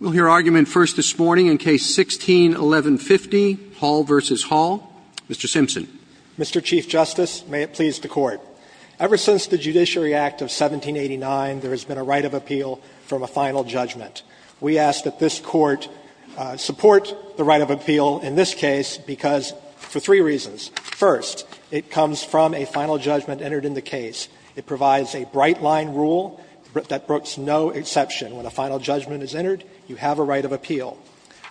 We'll hear argument first this morning in Case 16-1150, Hall v. Hall. Mr. Simpson. Mr. Chief Justice, may it please the Court. Ever since the Judiciary Act of 1789, there has been a right of appeal from a final judgment. We ask that this Court support the right of appeal in this case because for three reasons. First, it comes from a final judgment entered in the case. It provides a bright-line rule that brooks no exception. When a final judgment is entered, you have a right of appeal.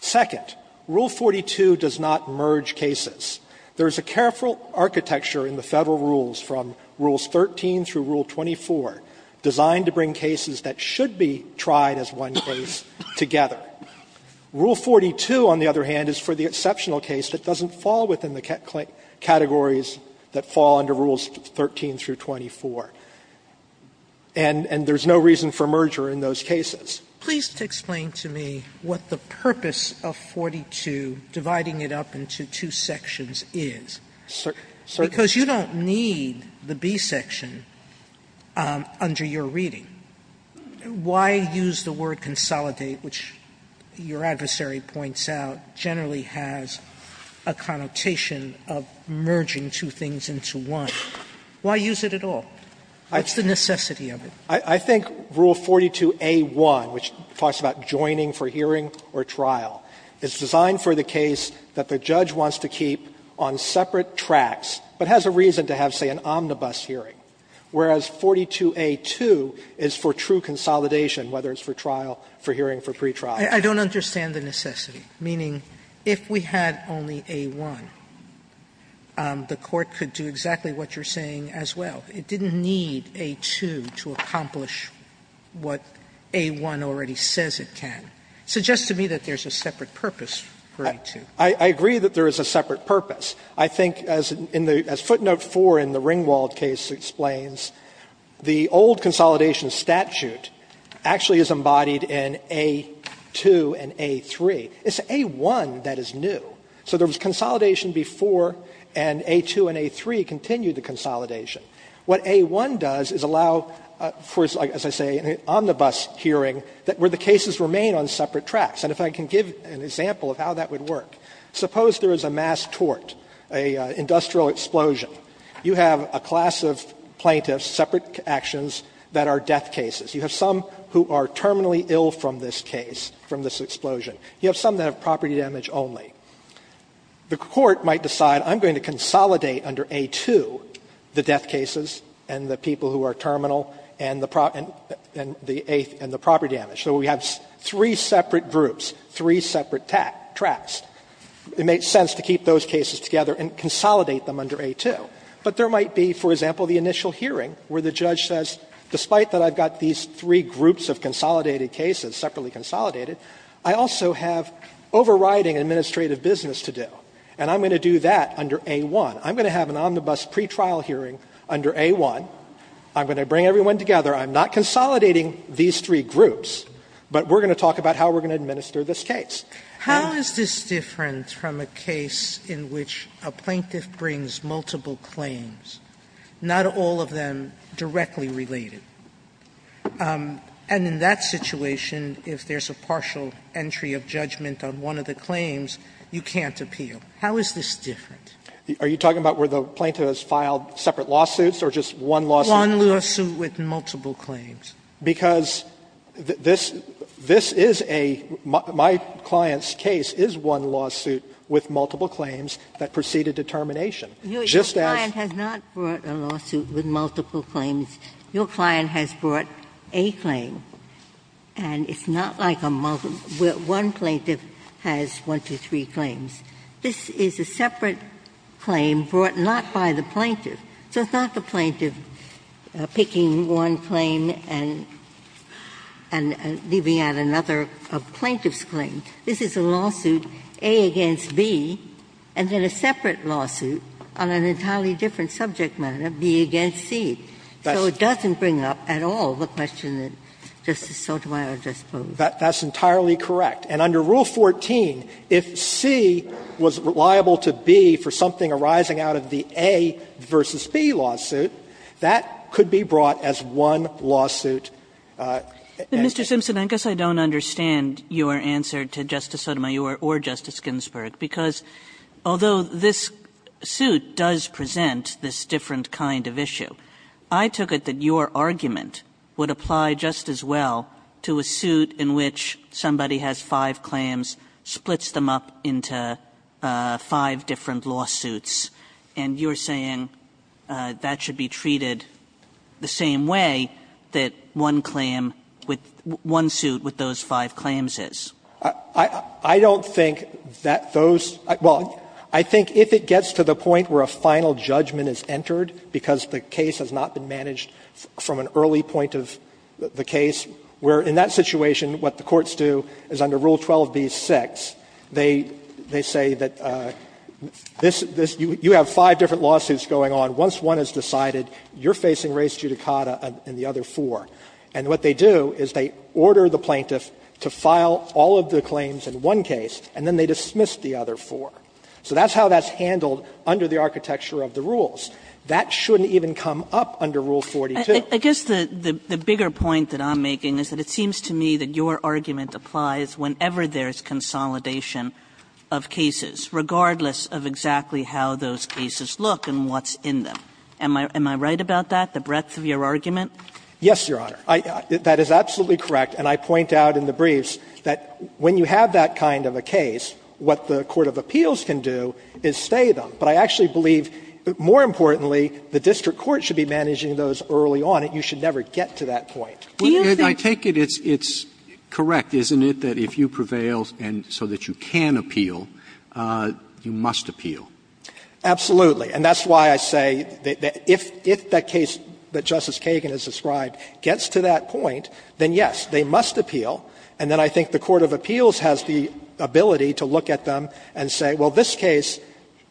Second, Rule 42 does not merge cases. There is a careful architecture in the Federal rules from Rules 13 through Rule 24 designed to bring cases that should be tried as one case together. Rule 42, on the other hand, is for the exceptional case that doesn't fall within the categories that fall under Rules 13 through 24, and there is no reason for merger in those cases. Sotomayor, please explain to me what the purpose of 42 dividing it up into two sections is, because you don't need the B section under your reading. Why use the word consolidate, which your adversary points out generally has a connotation of merging two things into one? Why use it at all? What's the necessity of it? I think Rule 42a1, which talks about joining for hearing or trial, is designed for the case that the judge wants to keep on separate tracks, but has a reason to have, say, an omnibus hearing, whereas 42a2 is for true consolidation, whether it's for trial, for hearing, for pretrial. Sotomayor, I don't understand the necessity, meaning if we had only a1, the Court could do exactly what you're saying as well. It didn't need a2 to accomplish what a1 already says it can. It suggests to me that there's a separate purpose for a2. I agree that there is a separate purpose. I think as footnote 4 in the Ringwald case explains, the old consolidation statute actually is embodied in a2 and a3. It's a1 that is new. So there was consolidation before, and a2 and a3 continued the consolidation. What a1 does is allow, as I say, an omnibus hearing where the cases remain on separate tracks. And if I can give an example of how that would work. Suppose there is a mass tort, an industrial explosion. You have a class of plaintiffs, separate actions that are death cases. You have some who are terminally ill from this case, from this explosion. You have some that have property damage only. The Court might decide I'm going to consolidate under a2 the death cases and the people who are terminal and the property damage. So we have three separate groups, three separate tracks. It makes sense to keep those cases together and consolidate them under a2. But there might be, for example, the initial hearing where the judge says, despite that I've got these three groups of consolidated cases, separately consolidated, I also have overriding administrative business to do, and I'm going to do that under a1. I'm going to have an omnibus pretrial hearing under a1. I'm going to bring everyone together. I'm not consolidating these three groups, but we're going to talk about how we're going to administer this case. Sotomayor, how is this different from a case in which a plaintiff brings multiple claims, not all of them directly related? And in that situation, if there's a partial entry of judgment on one of the claims, you can't appeal. How is this different? Are you talking about where the plaintiff has filed separate lawsuits or just one lawsuit? One lawsuit with multiple claims. Because this is a my client's case is one lawsuit with multiple claims that preceded determination. Just as. Ginsburg. Your client has not brought a lawsuit with multiple claims. Your client has brought a claim. And it's not like a one plaintiff has one to three claims. This is a separate claim brought not by the plaintiff. So it's not the plaintiff picking one claim and leaving out another plaintiff's claim. This is a lawsuit, A against B, and then a separate lawsuit on an entirely different subject matter, B against C. So it doesn't bring up at all the question that Justice Sotomayor just posed. That's entirely correct. And under Rule 14, if C was reliable to B for something arising out of the A v. B lawsuit, that could be brought as one lawsuit. Kagan. And Mr. Simpson, I guess I don't understand your answer to Justice Sotomayor or Justice Ginsburg, because although this suit does present this different kind of issue, I took it that your argument would apply just as well to a suit in which somebody has five claims, splits them up into five different lawsuits. And you're saying that should be treated the same way that one claim with one suit with those five claims is. I don't think that those – well, I think if it gets to the point where a final judgment is entered, because the case has not been managed from an early point of the case, where in that situation what the courts do is under Rule 12b-6, they say that this – you have five different lawsuits going on. Once one is decided, you're facing res judicata in the other four. And what they do is they order the plaintiff to file all of the claims in one case, and then they dismiss the other four. So that's how that's handled under the architecture of the rules. That shouldn't even come up under Rule 42. Kagan. Kagan, I guess the bigger point that I'm making is that it seems to me that your argument applies whenever there is consolidation of cases, regardless of exactly how those cases look and what's in them. Am I right about that, the breadth of your argument? Yes, Your Honor. I – that is absolutely correct. And I point out in the briefs that when you have that kind of a case, what the court of appeals can do is stay them. But I actually believe more importantly, the district court should be managing those early on, and you should never get to that point. Do you think – I take it it's correct, isn't it, that if you prevail and so that you can appeal, you must appeal? Absolutely. And that's why I say that if that case that Justice Kagan has described gets to that point, then yes, they must appeal. And then I think the court of appeals has the ability to look at them and say, well, this case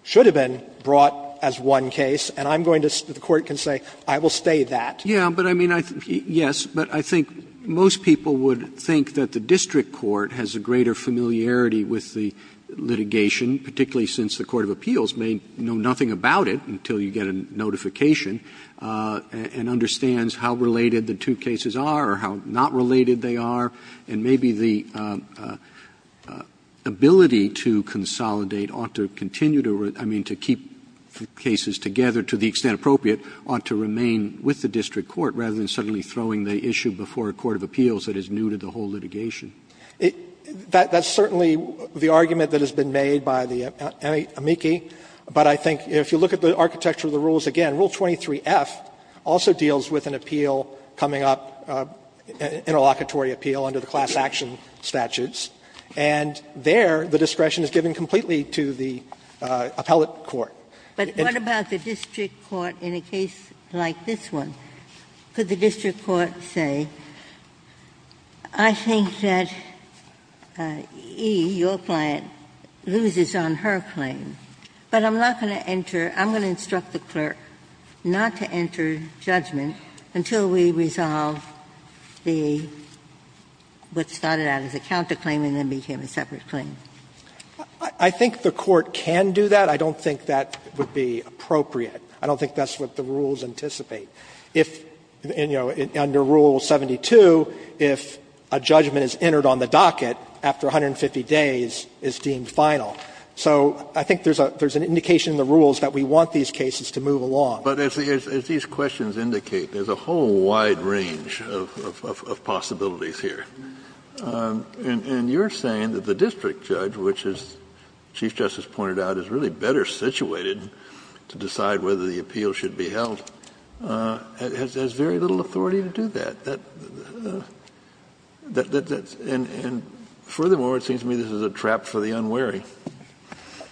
should have been brought as one case, and I'm going to – the court can say, I will stay that. Yeah, but I mean, I – yes, but I think most people would think that the district court has a greater familiarity with the litigation, particularly since the court of appeals may know nothing about it until you get a notification, and understands how related the two cases are or how not related they are, and maybe the ability to consolidate ought to continue to – I mean, to keep cases together to the extent appropriate ought to remain with the district court rather than suddenly throwing the issue before a court of appeals that is new to the whole litigation. That's certainly the argument that has been made by the amici, but I think if you look at the architecture of the rules again, Rule 23f also deals with an appeal coming up, an interlocutory appeal under the class action statutes, and there the discretion is given completely to the appellate court. Ginsburg But what about the district court in a case like this one? Could the district court say, I think that E, your client, loses on her claim, but I'm not going to enter – I'm going to instruct the clerk not to enter judgment until we resolve the – what started out as a counterclaim and then became a separate claim? I think the court can do that. I don't think that would be appropriate. I don't think that's what the rules anticipate. If – and, you know, under Rule 72, if a judgment is entered on the docket after 150 days, it's deemed final. So I think there's an indication in the rules that we want these cases to move along. Kennedy But as these questions indicate, there's a whole wide range of possibilities here. And you're saying that the district judge, which, as Chief Justice pointed out, is really better situated to decide whether the appeal should be held, has very little authority to do that. That's – and furthermore, it seems to me this is a trap for the unwary.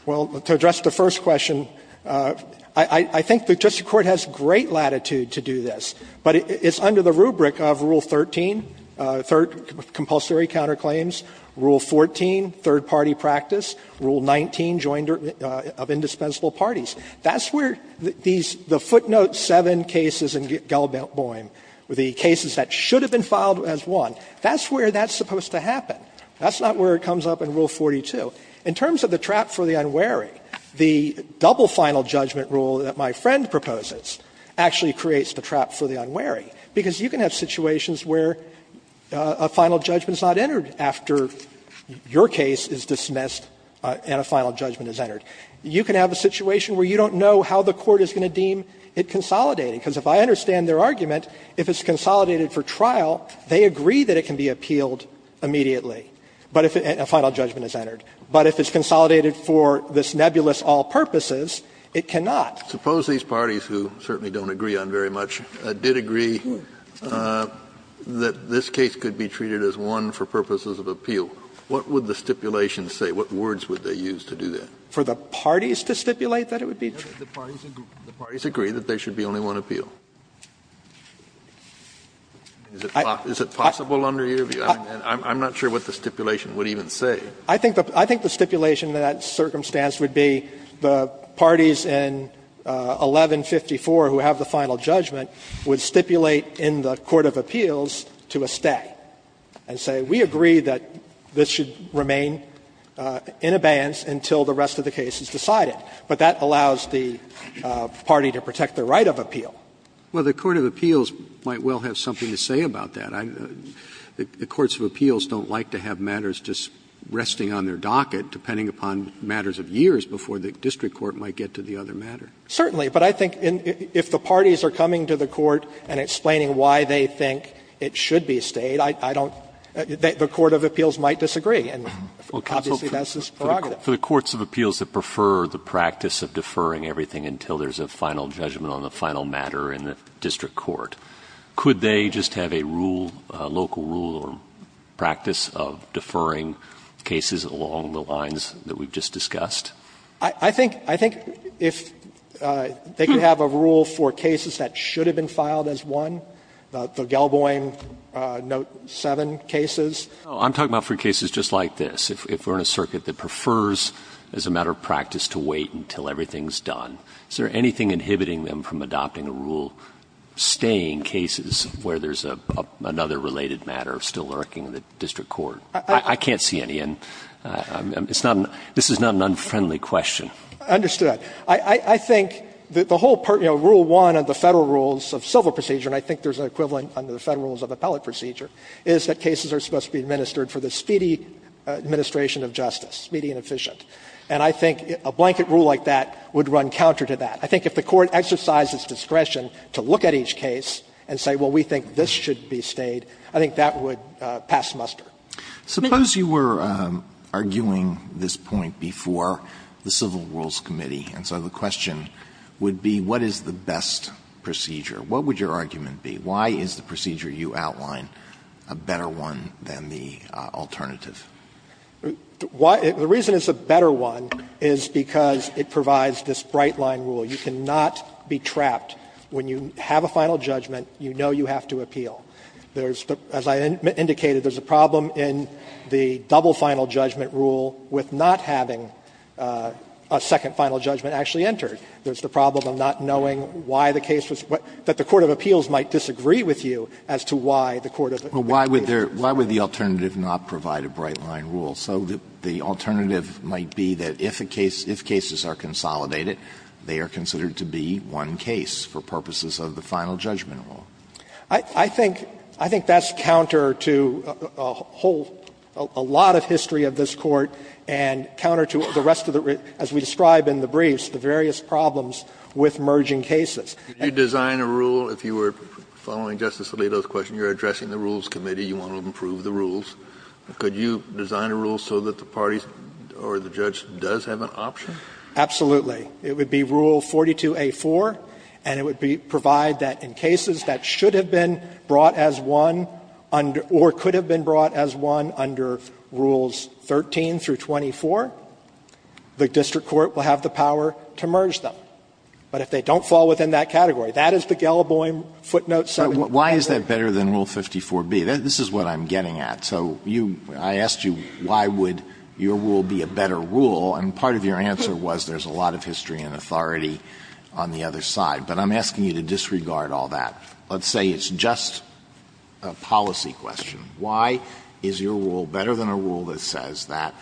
Well, to address the first question, I think the district court has great latitude to do this. But it's under the rubric of Rule 13, compulsory counterclaims, Rule 14, third party practice, Rule 19, joint of indispensable parties. That's where these – the footnote 7 cases in Gell-Bohm, the cases that should have been filed as one, that's where that's supposed to happen. That's not where it comes up in Rule 42. In terms of the trap for the unwary, the double final judgment rule that my friend proposes actually creates the trap for the unwary, because you can have situations where a final judgment is not entered after your case is dismissed and a final judgment is entered. You can have a situation where you don't know how the court is going to deem it consolidating. Because if I understand their argument, if it's consolidated for trial, they agree that it can be appealed immediately, but if a final judgment is entered. But if it's consolidated for this nebulous all purposes, it cannot. Kennedy Suppose these parties, who certainly don't agree on very much, did agree that this case could be treated as one for purposes of appeal. What would the stipulation say? What words would they use to do that? For the parties to stipulate that it would be true? The parties agree that there should be only one appeal. Is it possible under your view? I'm not sure what the stipulation would even say. I think the stipulation in that circumstance would be the parties in 1154 who have the final judgment would stipulate in the court of appeals to a stay and say, we agree that this should remain in abeyance until the rest of the case is decided. But that allows the party to protect their right of appeal. Well, the court of appeals might well have something to say about that. The courts of appeals don't like to have matters just resting on their docket, depending upon matters of years, before the district court might get to the other matter. Certainly. But I think if the parties are coming to the court and explaining why they think it should be stayed, I don't the court of appeals might disagree. And obviously, that's its prerogative. For the courts of appeals that prefer the practice of deferring everything until there's a final judgment on the final matter in the district court, could they just have a rule, a local rule or practice of deferring cases along the lines that we've just discussed? I think they could have a rule for cases that should have been filed as one, the Gelboim Note 7 cases. I'm talking about for cases just like this, if we're in a circuit that prefers as a matter of practice to wait until everything's done. Is there anything inhibiting them from adopting a rule, staying cases where there's another related matter still lurking in the district court? I can't see any. And it's not an unfriendly question. I understood that. I think that the whole part, you know, Rule 1 of the Federal Rules of Civil Procedure, and I think there's an equivalent under the Federal Rules of Appellate Procedure, is that cases are supposed to be administered for the speedy administration of justice, speedy and efficient. And I think a blanket rule like that would run counter to that. I think if the court exercises discretion to look at each case and say, well, we think this should be stayed, I think that would pass muster. Sotomayor, suppose you were arguing this point before the Civil Rules Committee, and so the question would be, what is the best procedure? What would your argument be? Why is the procedure you outline a better one than the alternative? The reason it's a better one is because it provides this bright-line rule. You cannot be trapped. When you have a final judgment, you know you have to appeal. There's, as I indicated, there's a problem in the double final judgment rule with not having a second final judgment actually entered. There's the problem of not knowing why the case was what the court of appeals might disagree with you as to why the court of appeals disagrees. Alito, why would the alternative not provide a bright-line rule? So the alternative might be that if a case, if cases are consolidated, they are considered to be one case for purposes of the final judgment rule. I think that's counter to a whole, a lot of history of this Court, and counter to the rest of the, as we describe in the briefs, the various problems with merging cases. Kennedy, you design a rule, if you were following Justice Alito's question, you're addressing the Rules Committee, you want to improve the rules. Could you design a rule so that the parties or the judge does have an option? Absolutely. It would be Rule 42A.4, and it would be, provide that in cases that should have been brought as one under, or could have been brought as one under Rules 13 through 24, the district court will have the power to merge them. But if they don't fall within that category, that is the Gallowboy footnote. Alito, why is that better than Rule 54B? This is what I'm getting at. So you, I asked you why would your rule be a better rule, and part of your answer was there's a lot of history and authority on the other side. But I'm asking you to disregard all that. Let's say it's just a policy question. Why is your rule better than a rule that says that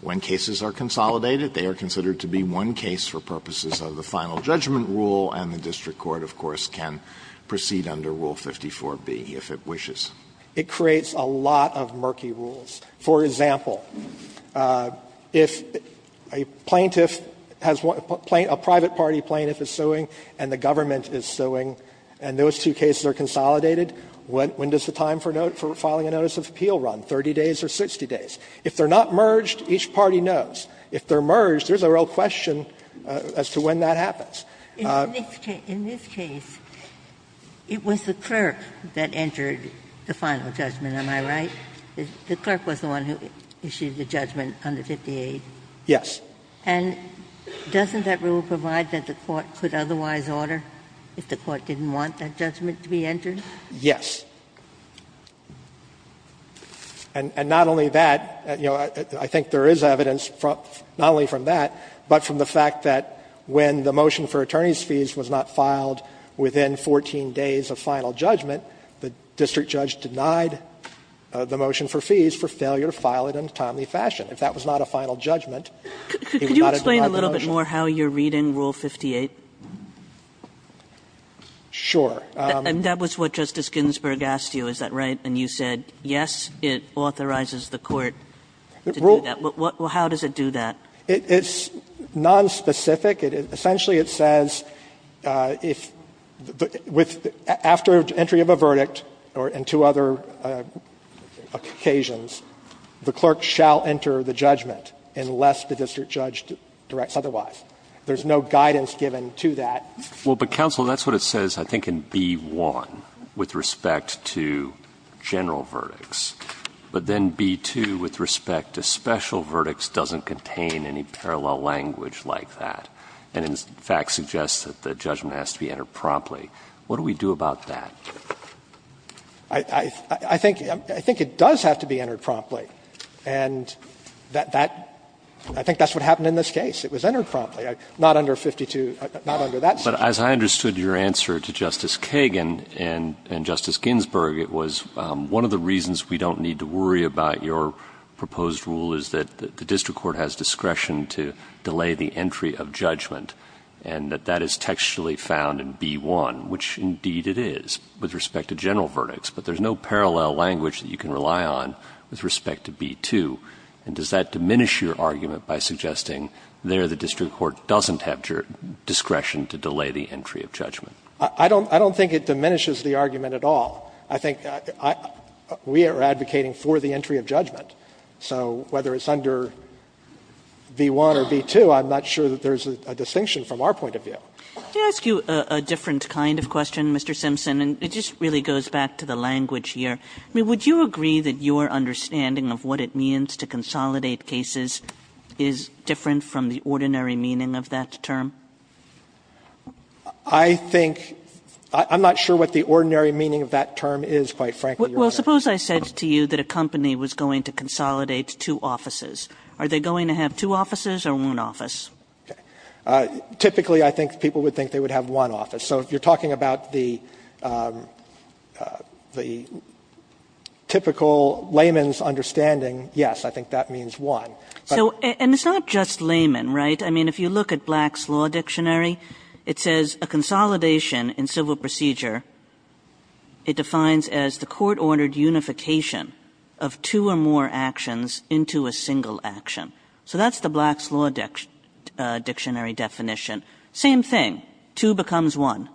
when cases are consolidated, they are considered to be one case for purposes of the final judgment rule, and the district court, of course, can proceed under Rule 54B if it wishes? It creates a lot of murky rules. For example, if a plaintiff has one, a private party plaintiff is suing and the government is suing, and those two cases are consolidated, when does the time for filing a notice of appeal run, 30 days or 60 days? If they're not merged, each party knows. If they're merged, there's a real question as to when that happens. Ginsburg, In this case, it was the clerk that entered the final judgment, am I right? The clerk was the one who issued the judgment under 58? Yes. And doesn't that rule provide that the court could otherwise order if the court didn't want that judgment to be entered? Yes. And not only that, you know, I think there is evidence not only from that, but from the fact that when the motion for attorney's fees was not filed within 14 days of final judgment, the district judge denied the motion for fees for failure to file it in a timely fashion. If that was not a final judgment, he would not have denied the motion. Could you explain a little bit more how you're reading Rule 58? Sure. And that was what Justice Ginsburg asked you, is that right? And you said, yes, it authorizes the court to do that. Well, how does it do that? It's nonspecific. Essentially, it says if the – after entry of a verdict or in two other occasions, the clerk shall enter the judgment unless the district judge directs otherwise. There's no guidance given to that. Well, but counsel, that's what it says, I think, in B-1 with respect to general verdicts. But then B-2 with respect to special verdicts doesn't contain any parallel language like that. And, in fact, suggests that the judgment has to be entered promptly. What do we do about that? I think it does have to be entered promptly. And that – I think that's what happened in this case. It was entered promptly. Not under 52 – not under that statute. But as I understood your answer to Justice Kagan and Justice Ginsburg, it was one of the reasons we don't need to worry about your proposed rule is that the district court has discretion to delay the entry of judgment, and that that is textually found in B-1, which indeed it is with respect to general verdicts. But there's no parallel language that you can rely on with respect to B-2. And does that diminish your argument by suggesting there the district court doesn't have discretion to delay the entry of judgment? I don't think it diminishes the argument at all. I think we are advocating for the entry of judgment. So whether it's under B-1 or B-2 I'm not sure that there's a distinction from our point of view. Kagan, did I ask you a different kind of question, Mr. Simpson? And it just really goes back to the language here. I mean, would you agree that your understanding of what it means to consolidate cases is different from the ordinary meaning of that term? I think – I'm not sure what the ordinary meaning of that term is, quite frankly. Well, suppose I said to you that a company was going to consolidate two offices. Are they going to have two offices or one office? Typically, I think people would think they would have one office. So if you're talking about the typical layman's understanding, yes, I think that means one. So – and it's not just layman, right? I mean, if you look at Black's Law Dictionary, it says a consolidation in civil procedure it defines as the court-ordered unification of two or more actions into a single action. So that's the Black's Law Dictionary definition. Same thing. Two becomes one.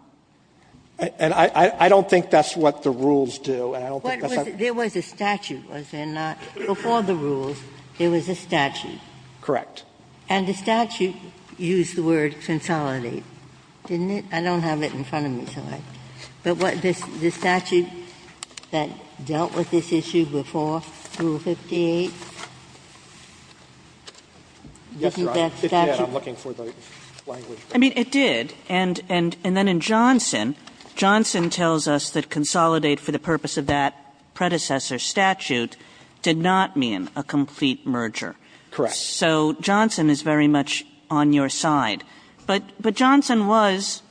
And I don't think that's what the rules do, and I don't think that's how it works. There was a statute, was there not? Before the rules, there was a statute. Correct. And the statute used the word consolidate, didn't it? I don't have it in front of me, so I don't know. But the statute that dealt with this issue before, Rule 58, didn't that statute Yes, I'm looking for the language. I mean, it did. And then in Johnson, Johnson tells us that consolidate for the purpose of that predecessor statute did not mean a complete merger. Correct. So Johnson is very much on your side. But Johnson was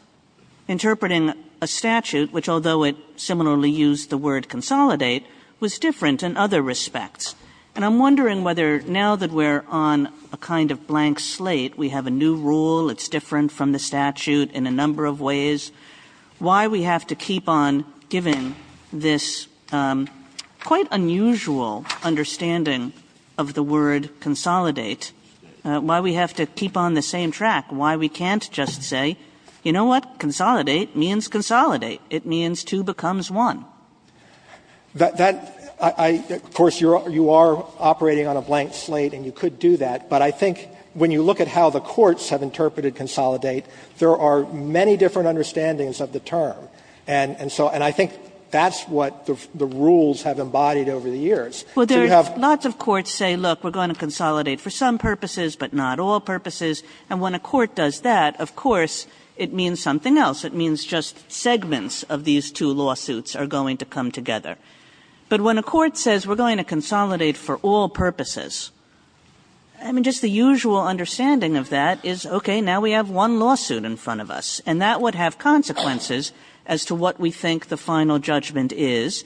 interpreting a statute, which although it similarly used the word consolidate, was different in other respects. And I'm wondering whether now that we're on a kind of blank slate, we have a new rule, it's different from the statute in a number of ways, why we have to keep on giving this quite unusual understanding of the word consolidate, why we have to keep on the same track, why we can't just say, you know what? Consolidate means consolidate. It means two becomes one. That of course, you are operating on a blank slate, and you could do that. But I think when you look at how the courts have interpreted consolidate, there are many different understandings of the term. And so I think that's what the rules have embodied over the years. So you have Well, lots of courts say, look, we're going to consolidate for some purposes, but not all purposes. And when a court does that, of course, it means something else. It means just segments of these two lawsuits are going to come together. But when a court says we're going to consolidate for all purposes, I mean, just the usual understanding of that is, okay, now we have one lawsuit in front of us, and that would have consequences as to what we think the final judgment is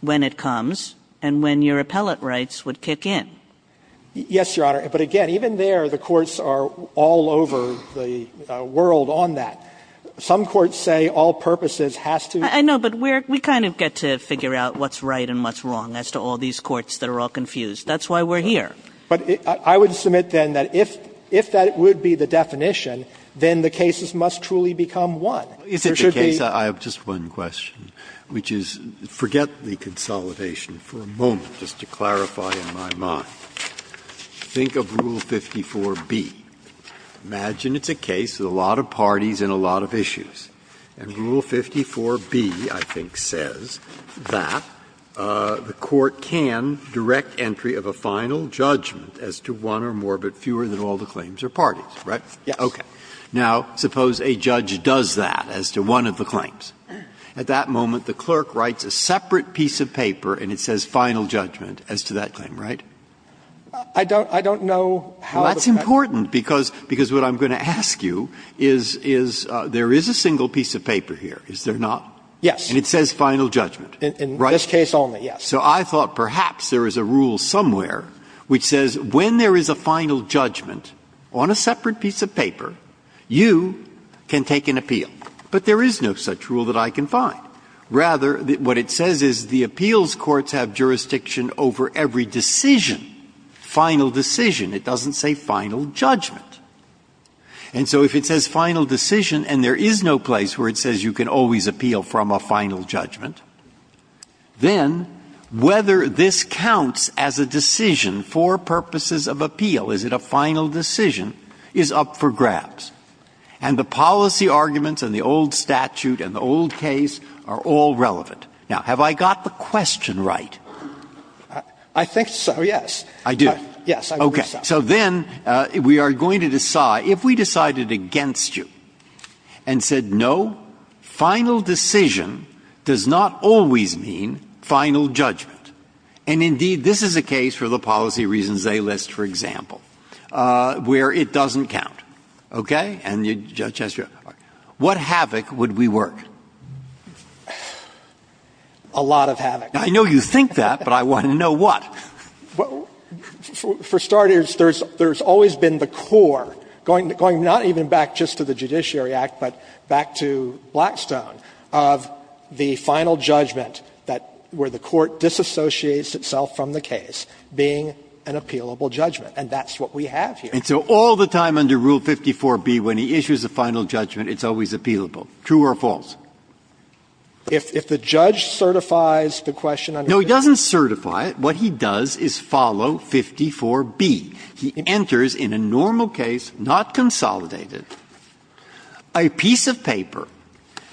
when it comes and when your appellate rights would kick in. Yes, Your Honor. But again, even there, the courts are all over the world on that. Some courts say all purposes has to I know, but we kind of get to figure out what's right and what's wrong as to all these courts that are all confused. That's why we're here. But I would submit then that if that would be the definition, then the cases must truly become one. There should be I have just one question, which is forget the consolidation for a moment, just to clarify in my mind. Think of Rule 54b. Imagine it's a case with a lot of parties and a lot of issues. And Rule 54b, I think, says that the court can direct entry of a final judgment as to one or more, but fewer than all the claims are parties, right? Yes. Okay. Now, suppose a judge does that as to one of the claims. At that moment, the clerk writes a separate piece of paper and it says final judgment as to that claim, right? I don't know how that's going to happen. Well, that's important, because what I'm going to ask you is, is there is a single piece of paper here, is there not? Yes. And it says final judgment, right? In this case only, yes. So I thought perhaps there is a rule somewhere which says when there is a final judgment on a separate piece of paper, you can take an appeal. But there is no such rule that I can find. Rather, what it says is the appeals courts have jurisdiction over every decision, final decision. It doesn't say final judgment. And so if it says final decision and there is no place where it says you can always appeal from a final judgment, then whether this counts as a decision for purposes of appeal, is it a final decision, is up for grabs. And the policy arguments and the old statute and the old case are all relevant. Now, have I got the question right? I think so, yes. I do? Yes. Okay. So then we are going to decide, if we decided against you and said no, final decision does not always mean final judgment, and indeed this is a case for the policy reasons they list, for example, where it doesn't count, okay? And the judge has to go, what havoc would we work? A lot of havoc. I know you think that, but I want to know what. For starters, there has always been the core, going not even back just to the Judiciary Act, but back to Blackstone, of the final judgment that where the court disassociates itself from the case being an appealable judgment. And that's what we have here. And so all the time under Rule 54b, when he issues a final judgment, it's always appealable, true or false? If the judge certifies the question under 54b. No, he doesn't certify it. What he does is follow 54b. He enters in a normal case, not consolidated, a piece of paper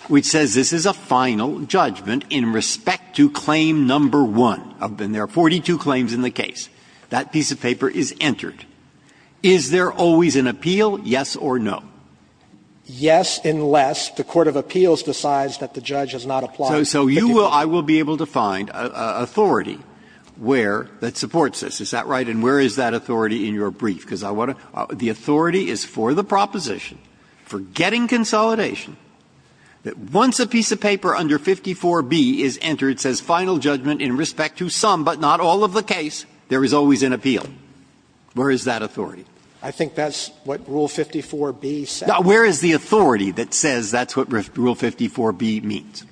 which says this is a final judgment in respect to claim number one. And there are 42 claims in the case. That piece of paper is entered. Is there always an appeal, yes or no? Yes, unless the court of appeals decides that the judge has not applied. So you will be able to find authority where that supports this. Is that right? And where is that authority in your brief? Because I want to the authority is for the proposition, for getting consolidation. Once a piece of paper under 54b is entered, says final judgment in respect to some, but not all of the case, there is always an appeal. Where is that authority? I think that's what rule 54b says. Now, where is the authority that says that's what rule 54b means?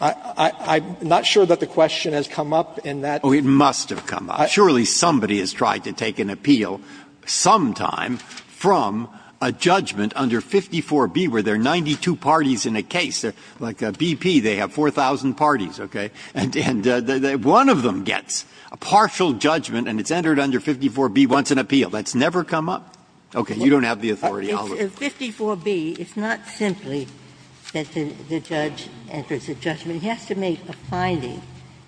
I'm not sure that the question has come up in that. Oh, it must have come up. Surely somebody has tried to take an appeal sometime from a judgment under 54b where there are 92 parties in a case. Like BP, they have 4,000 parties, okay? And one of them gets a partial judgment and it's entered under 54b, wants an appeal. That's never come up? Okay. You don't have the authority. I'll look. If 54b, it's not simply that the judge enters a judgment. He has to make a finding.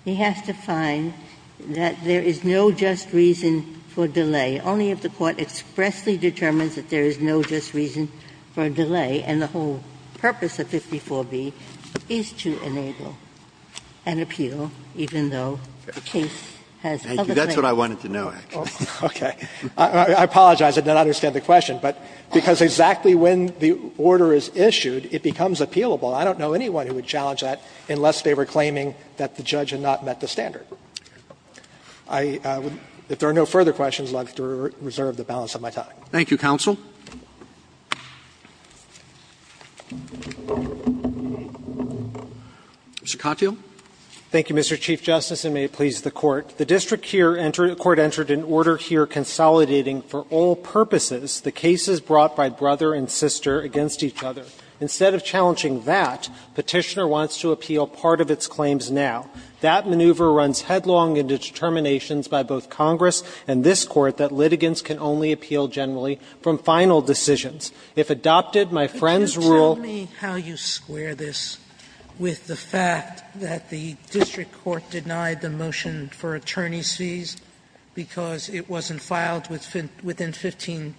He has to find that there is no just reason for delay. Only if the court expressly determines that there is no just reason for a delay and the whole purpose of 54b is to enable an appeal, even though the case has other things. That's what I wanted to know, actually. Okay. I apologize. I did not understand the question. But because exactly when the order is issued, it becomes appealable. I don't know anyone who would challenge that unless they were claiming that the judge had not met the standard. I would, if there are no further questions, like to reserve the balance of my time. Thank you, counsel. Mr. Katyal. Katyal, thank you, Mr. Chief Justice, and may it please the Court. The district court entered an order here consolidating for all purposes the cases brought by brother and sister against each other. Instead of challenging that, Petitioner wants to appeal part of its claims now. That maneuver runs headlong into determinations by both Congress and this Court that litigants can only appeal generally from final decisions. If adopted, my friends rule ---- Sotomayor, could you tell me how you square this with the fact that the district court denied the motion for attorney's fees because it wasn't filed within 15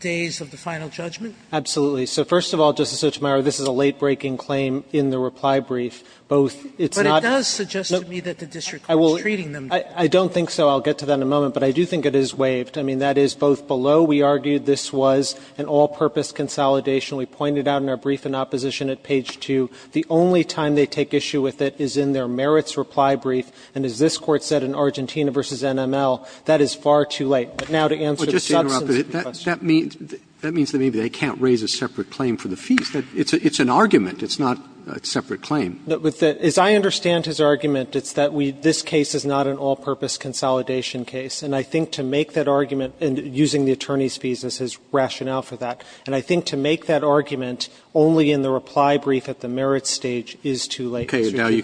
days of the final judgment? Absolutely. So, first of all, Justice Sotomayor, this is a late-breaking claim in the reply brief. Both it's not ---- But it does suggest to me that the district court is treating them differently. I don't think so. I'll get to that in a moment. But I do think it is waived. I mean, that is both below we argued this was an all-purpose consolidation. We pointed out in our brief in opposition at page 2, the only time they take issue with it is in their merits reply brief. And as this Court said in Argentina v. NML, that is far too late. But now to answer the substance of the question. But just to interrupt, that means they can't raise a separate claim for the fees. It's an argument. It's not a separate claim. As I understand his argument, it's that we ---- this case is not an all-purpose consolidation case. And I think to make that argument, and using the attorney's fees as his rationale for that, and I think to make that argument only in the reply brief at the merits stage is too late. It's too late, Justice. Now you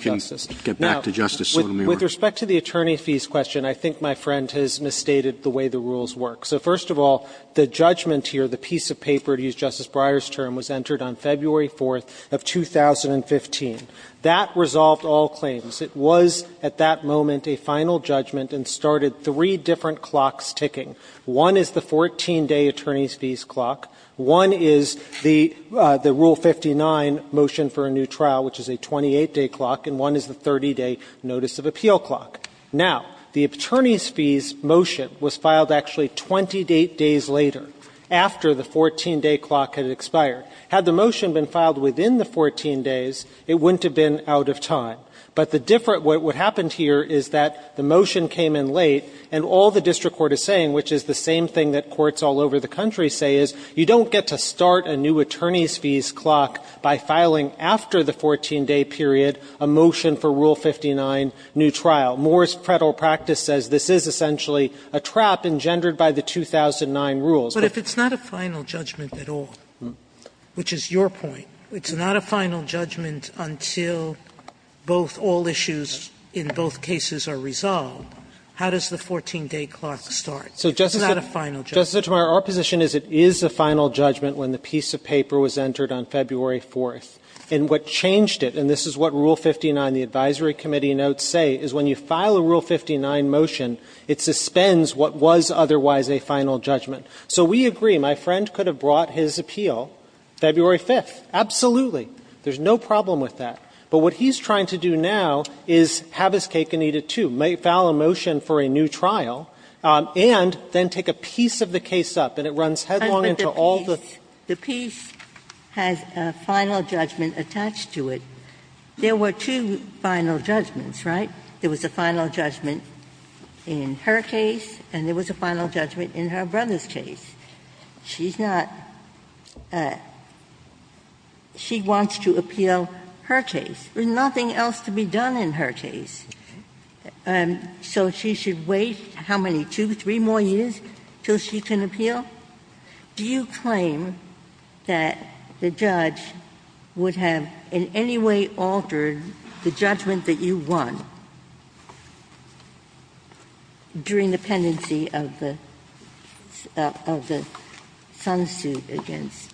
can get back to Justice Sotomayor. Now, with respect to the attorney fees question, I think my friend has misstated the way the rules work. So first of all, the judgment here, the piece of paper, to use Justice Breyer's term, was entered on February 4th of 2015. That resolved all claims. It was at that moment a final judgment and started three different clocks ticking. One is the 14-day attorney's fees clock. One is the Rule 59 motion for a new trial, which is a 28-day clock. And one is the 30-day notice of appeal clock. Now, the attorney's fees motion was filed actually 28 days later, after the 14-day clock had expired. Had the motion been filed within the 14 days, it wouldn't have been out of time. But the different what happened here is that the motion came in late, and all the district court is saying, which is the same thing that courts all over the country say, is you don't get to start a new attorney's fees clock by filing, after the 14-day period, a motion for Rule 59, new trial. Moore's federal practice says this is essentially a trap engendered by the 2009 rules. Sotomayor, but if it's not a final judgment at all, which is your point, it's not a final judgment until both, all issues in both cases are resolved, how does the 14-day clock start? It's not a final judgment. Justice Sotomayor, our position is it is a final judgment when the piece of paper was entered on February 4th. And what changed it, and this is what Rule 59, the advisory committee notes say, is when you file a Rule 59 motion, it suspends what was otherwise a final judgment. So we agree. My friend could have brought his appeal February 5th. Absolutely. There's no problem with that. But what he's trying to do now is have his cake and eat it, too, file a motion for a new trial, and then take a piece of the case up, and it runs headlong into all the other cases. The piece has a final judgment attached to it. There were two final judgments, right? There was a final judgment in her case, and there was a final judgment in her brother's case. She's not at the point where she wants to appeal her case. There's nothing else to be done in her case. So she should wait, how many, two, three more years until she can appeal? Do you claim that the judge would have in any way altered the judgment that you won during the pendency of the son's suit against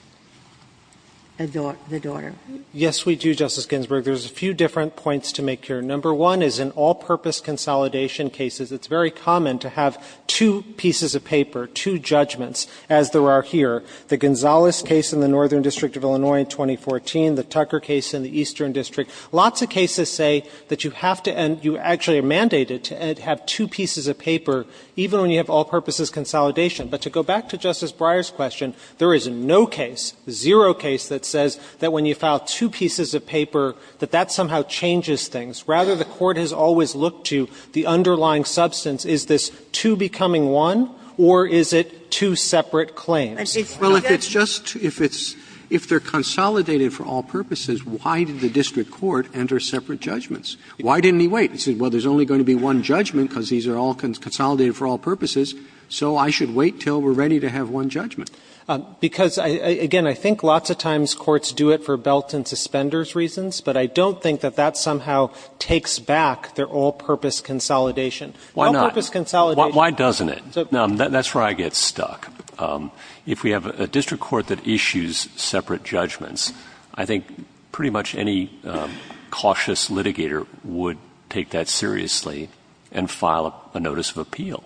the daughter? Yes, we do, Justice Ginsburg. There's a few different points to make here. Number one is in all-purpose consolidation cases, it's very common to have two pieces of paper, two judgments, as there are here. The Gonzales case in the Northern District of Illinois in 2014, the Tucker case in the Eastern District. Lots of cases say that you have to end, you actually are mandated to have two pieces of paper, even when you have all-purposes consolidation. But to go back to Justice Breyer's question, there is no case, zero case that says that when you file two pieces of paper, that that somehow changes things. Rather, the Court has always looked to the underlying substance. Is this two becoming one, or is it two separate claims? Well, if it's just, if it's, if they're consolidated for all purposes, why did the district court enter separate judgments? Why didn't he wait? He said, well, there's only going to be one judgment because these are all consolidated for all purposes, so I should wait until we're ready to have one judgment. Because, again, I think lots of times courts do it for belt and suspenders reasons, but I don't think that that somehow takes back their all-purpose consolidation. All-purpose consolidation. Why not? Why doesn't it? That's where I get stuck. If we have a district court that issues separate judgments, I think pretty much any cautious litigator would take that seriously and file a notice of appeal,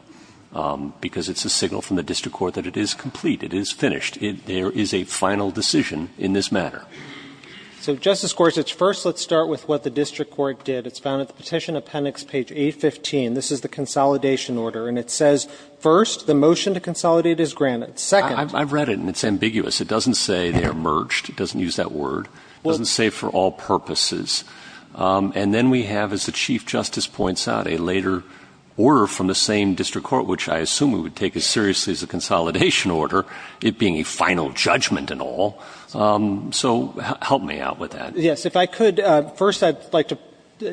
because it's a signal from the district court that it is complete, it is finished. There is a final decision in this matter. So, Justice Gorsuch, first let's start with what the district court did. It's found at the Petition Appendix, page 815. This is the consolidation order. And it says, first, the motion to consolidate is granted. Second. I've read it, and it's ambiguous. It doesn't say they are merged. It doesn't use that word. It doesn't say for all purposes. And then we have, as the Chief Justice points out, a later order from the same district court, which I assume it would take as seriously as a consolidation order, it being a final judgment and all. So help me out with that. Yes. If I could, first I'd like to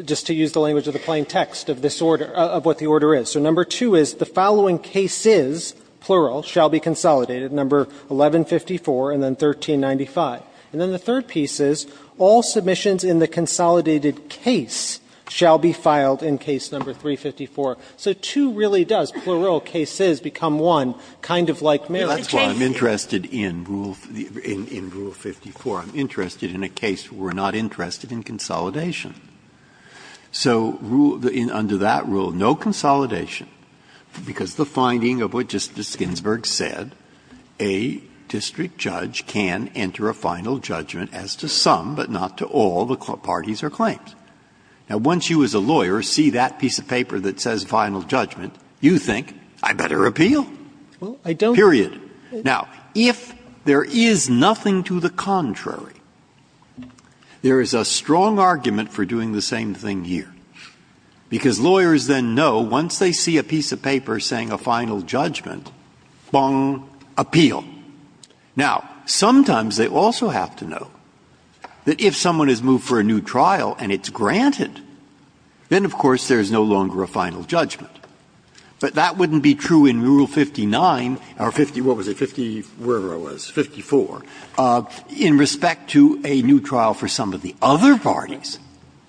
just to use the language of the plain text of this order, of what the order is. So number two is, the following cases, plural, shall be consolidated, number 1154 and then 1395. And then the third piece is, all submissions in the consolidated case shall be filed in case number 354. So two really does, plural, cases, become one, kind of like marriage. Breyer, that's why I'm interested in rule, in rule 54. So under that rule, no consolidation, because the finding of what Justice Ginsburg said, a district judge can enter a final judgment as to some, but not to all, the parties or claims. Now, once you as a lawyer see that piece of paper that says final judgment, you think, I'd better appeal, period. Now, if there is nothing to the contrary, there is a strong argument for doing the same thing here, because lawyers then know, once they see a piece of paper saying a final judgment, bong, appeal. Now, sometimes they also have to know that if someone is moved for a new trial and it's granted, then, of course, there's no longer a final judgment. But that wouldn't be true in rule 59, or 50, what was it, 50, wherever it was, 54, in respect to a new trial for some of the other parties.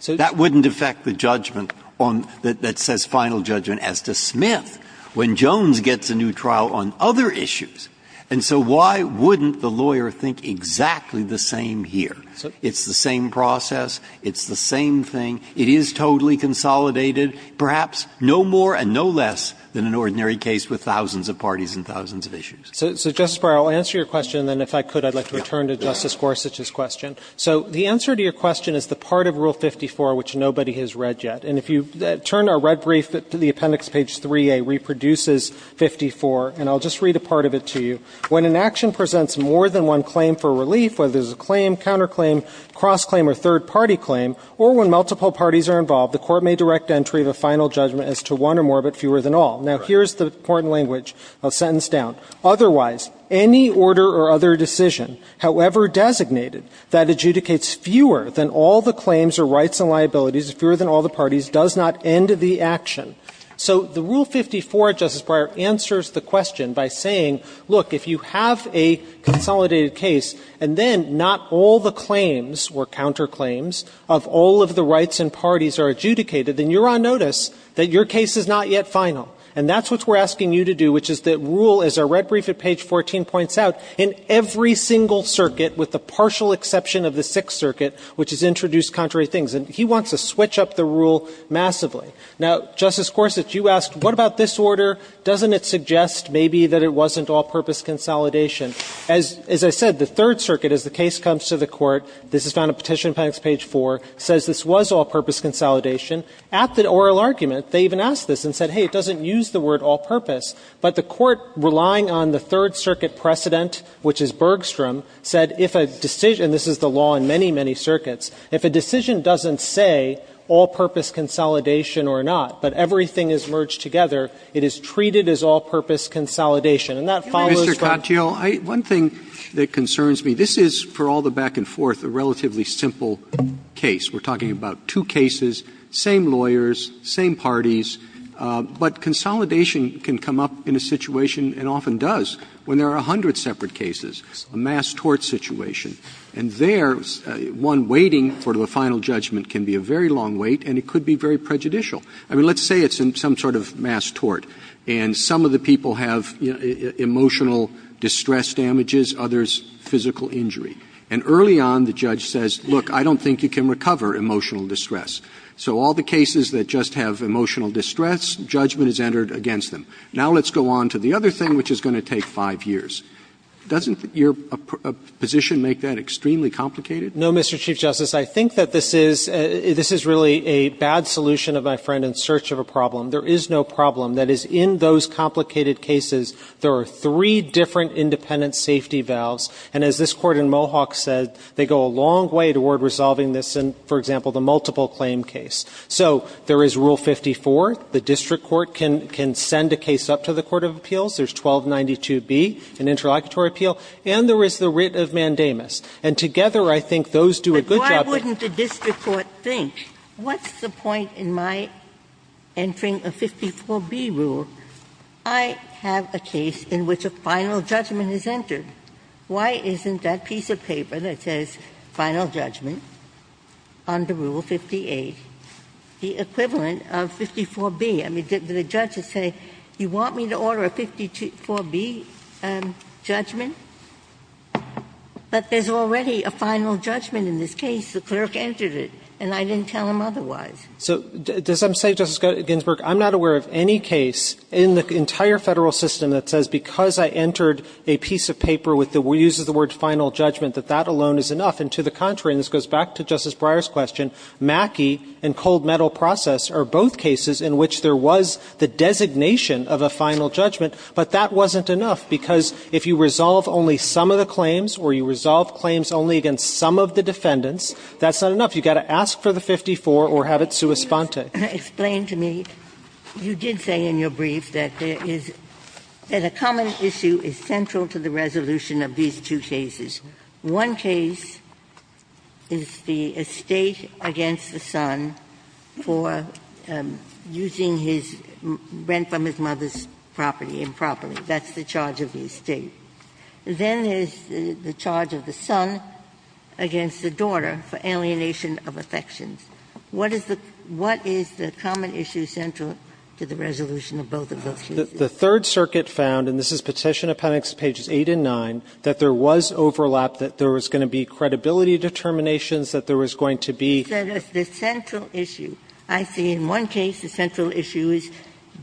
That wouldn't affect the judgment on, that says final judgment as to Smith when Jones gets a new trial on other issues. And so why wouldn't the lawyer think exactly the same here? It's the same process, it's the same thing, it is totally consolidated. Perhaps no more and no less than an ordinary case with thousands of parties and thousands of issues. So, Justice Breyer, I'll answer your question, and then if I could, I'd like to return to Justice Gorsuch's question. So the answer to your question is the part of Rule 54 which nobody has read yet. And if you turn to our red brief, the appendix page 3a reproduces 54, and I'll just read a part of it to you. When an action presents more than one claim for relief, whether it's a claim, counter claim, cross claim, or third party claim, or when multiple parties are involved, the court may direct entry of a final judgment as to one or more, but fewer than all. Now, here's the important language I'll sentence down. Otherwise, any order or other decision, however designated, that adjudicates fewer than all the claims or rights and liabilities, fewer than all the parties, does not end the action. So the Rule 54, Justice Breyer, answers the question by saying, look, if you have a consolidated case, and then not all the claims or counter claims of all of the rights and parties are adjudicated, then you're on notice that your case is not yet final. And that's what we're asking you to do, which is that Rule, as our red brief at page 14 points out, in every single circuit, with the partial exception of the Sixth Circuit, which has introduced contrary things. And he wants to switch up the rule massively. Now, Justice Gorsuch, you asked, what about this order? Doesn't it suggest maybe that it wasn't all-purpose consolidation? As I said, the Third Circuit, as the case comes to the Court, this is found in Petition Packs, page 4, says this was all-purpose consolidation. At the oral argument, they even asked this and said, hey, it doesn't use the word all-purpose. But the Court, relying on the Third Circuit precedent, which is Bergstrom, said if a decision – and this is the law in many, many circuits – if a decision doesn't say all-purpose consolidation or not, but everything is merged together, it is treated as all-purpose consolidation. And that follows from the other side of the argument. I mean, we're talking about a single case. We're talking about two cases, same lawyers, same parties. But consolidation can come up in a situation, and often does, when there are a hundred separate cases, a mass tort situation. And there, one waiting for the final judgment can be a very long wait, and it could be very prejudicial. I mean, let's say it's in some sort of mass tort, and some of the people have emotional distress damages, others physical injury. And early on, the judge says, look, I don't think you can recover emotional distress. So all the cases that just have emotional distress, judgment is entered against them. Now let's go on to the other thing, which is going to take five years. Doesn't your position make that extremely complicated? No, Mr. Chief Justice. I think that this is – this is really a bad solution of my friend in search of a problem. There is no problem. That is, in those complicated cases, there are three different independent safety valves. And as this Court in Mohawk said, they go a long way toward resolving this in, for example, the multiple claim case. So there is Rule 54. The district court can send a case up to the court of appeals. There's 1292B, an interlocutory appeal. And there is the writ of mandamus. And together, I think those do a good job of the case. Ginsburg. But why wouldn't the district court think, what's the point in my entering a 54B rule? I have a case in which a final judgment is entered. Why isn't that piece of paper that says, final judgment, under Rule 58, the equivalent of 54B? I mean, the judges say, you want me to order a 54B judgment? But there's already a final judgment in this case. The clerk entered it, and I didn't tell him otherwise. So does that say, Justice Ginsburg, I'm not aware of any case in the entire Federal system that says, because I entered a piece of paper with the words, uses the word final judgment, that that alone is enough? And to the contrary, and this goes back to Justice Breyer's question, Mackey and cold metal process are both cases in which there was the designation of a final judgment, but that wasn't enough, because if you resolve only some of the claims or you resolve claims only against some of the defendants, that's not enough. You've got to ask for the 54 or have it sua sponte. Ginsburg Why didn't you just explain to me? You did say in your brief that there is – that a common issue is central to the resolution of these two cases. One case is the estate against the son for using his – rent from his mother's property improperly. That's the charge of the estate. Then there is the charge of the son against the daughter for alienation of affections. What is the – what is the common issue central to the resolution of both of those cases? The Third Circuit found, and this is Petition Appendix pages 8 and 9, that there was overlap, that there was going to be credibility determinations, that there was going to be – The central issue, I see in one case, the central issue is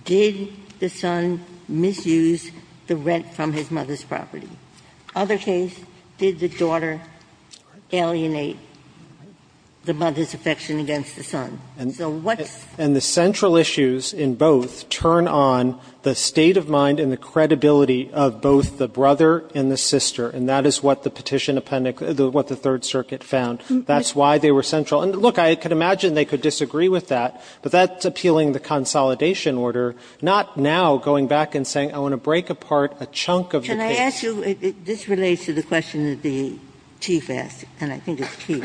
did the son misuse the rent from his mother's property? Other case, did the daughter alienate the mother's affection against the son? So what's – And the central issues in both turn on the state of mind and the credibility of both the brother and the sister, and that is what the Petition Appendix – what the Third Circuit found. That's why they were central. And look, I can imagine they could disagree with that, but that's appealing the consolidation order, not now going back and saying, I want to break apart a chunk of the case. Ginsburg. I ask you – this relates to the question that the Chief asked, and I think it's key.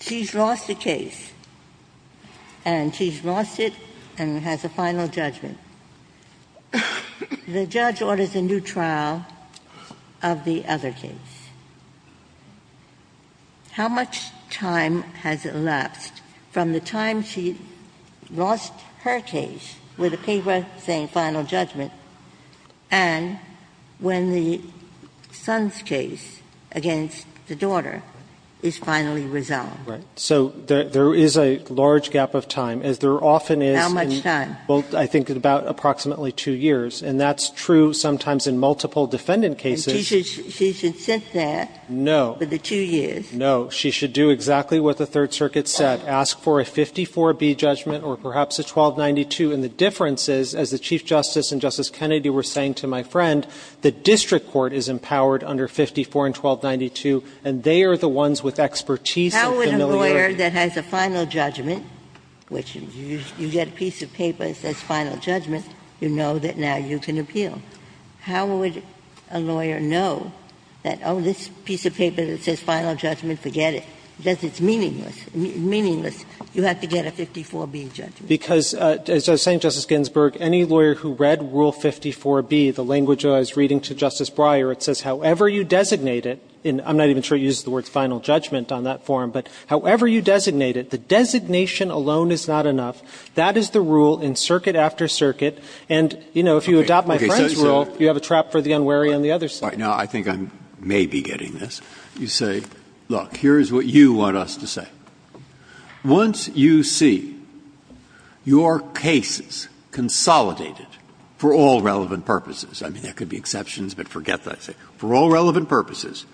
She's lost a case, and she's lost it and has a final judgment. The judge orders a new trial of the other case. How much time has elapsed from the time she lost her case with the paper saying she has a final judgment, and when the son's case against the daughter is finally resolved? So there is a large gap of time, as there often is in – How much time? Well, I think about approximately two years, and that's true sometimes in multiple defendant cases. She should sit there for the two years. No. She should do exactly what the Third Circuit said, ask for a 54B judgment or perhaps a 1292, and the difference is, as the Chief Justice and Justice Kennedy were saying to my friend, the district court is empowered under 54 and 1292, and they are the ones with expertise and familiarity. How would a lawyer that has a final judgment, which you get a piece of paper that says final judgment, you know that now you can appeal. How would a lawyer know that, oh, this piece of paper that says final judgment, forget it, because it's meaningless. You have to get a 54B judgment. Because, as I was saying, Justice Ginsburg, any lawyer who read Rule 54B, the language I was reading to Justice Breyer, it says however you designate it, and I'm not even sure it uses the words final judgment on that form, but however you designate it, the designation alone is not enough. That is the rule in circuit after circuit, and, you know, if you adopt my friend's rule, you have a trap for the unwary on the other side. Now, I think I may be getting this. You say, look, here is what you want us to say. Once you see your cases consolidated for all relevant purposes, I mean, there could be exceptions, but forget that, for all relevant purposes,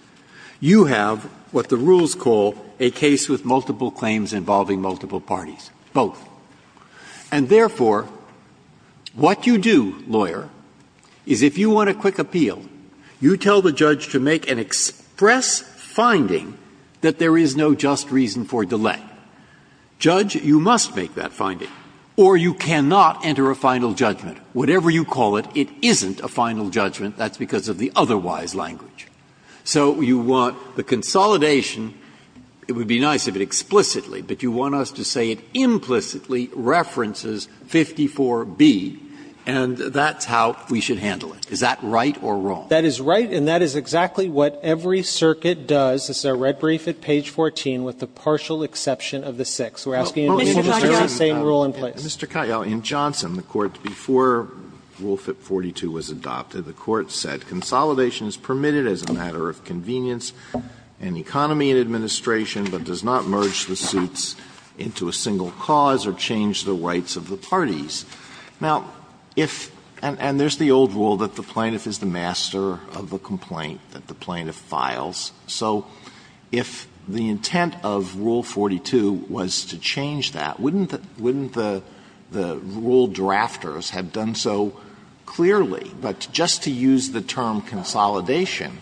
you have what the rules call a case with multiple claims involving multiple parties, both. And therefore, what you do, lawyer, is if you want a quick appeal, you tell the judge to make an express finding that there is no just reason for delay. Judge, you must make that finding, or you cannot enter a final judgment. Whatever you call it, it isn't a final judgment. That's because of the otherwise language. So you want the consolidation. It would be nice if it explicitly, but you want us to say it implicitly references 54B, and that's how we should handle it. Is that right or wrong? That is right, and that is exactly what every circuit does. This is our red brief at page 14, with the partial exception of the six. We're asking you to make the very same rule in place. Mr. Katyal, in Johnson, the Court, before Rule 42 was adopted, the Court said, Consolidation is permitted as a matter of convenience in economy and administration, but does not merge the suits into a single cause or change the rights of the parties. Now, if — and there's the old rule that the plaintiff is the master of the complaint that the plaintiff files. So if the intent of Rule 42 was to change that, wouldn't the — wouldn't the rule drafters have done so clearly? But just to use the term consolidation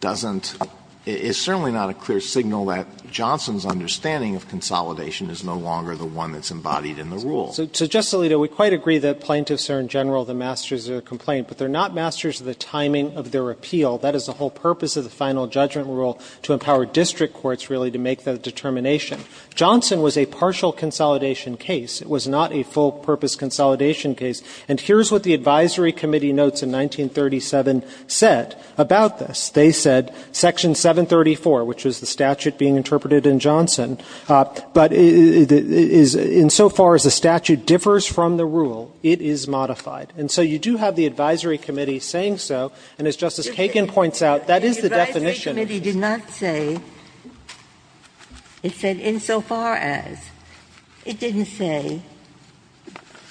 doesn't — is certainly not a clear signal that Johnson's understanding of consolidation is no longer the one that's embodied in the rule. So, Justice Alito, we quite agree that plaintiffs are, in general, the masters of the complaint, but they're not masters of the timing of their appeal. That is the whole purpose of the final judgment rule, to empower district courts, really, to make that determination. Johnson was a partial consolidation case. It was not a full-purpose consolidation case. And here's what the advisory committee notes in 1937 said about this. They said, Section 734, which was the statute being interpreted in Johnson, but is, insofar as the statute differs from the rule, it is modified. And so you do have the advisory committee saying so, and, as Justice Kagan points out, that is the definition. Ginsburg. The advisory committee did not say, it said, insofar as. It didn't say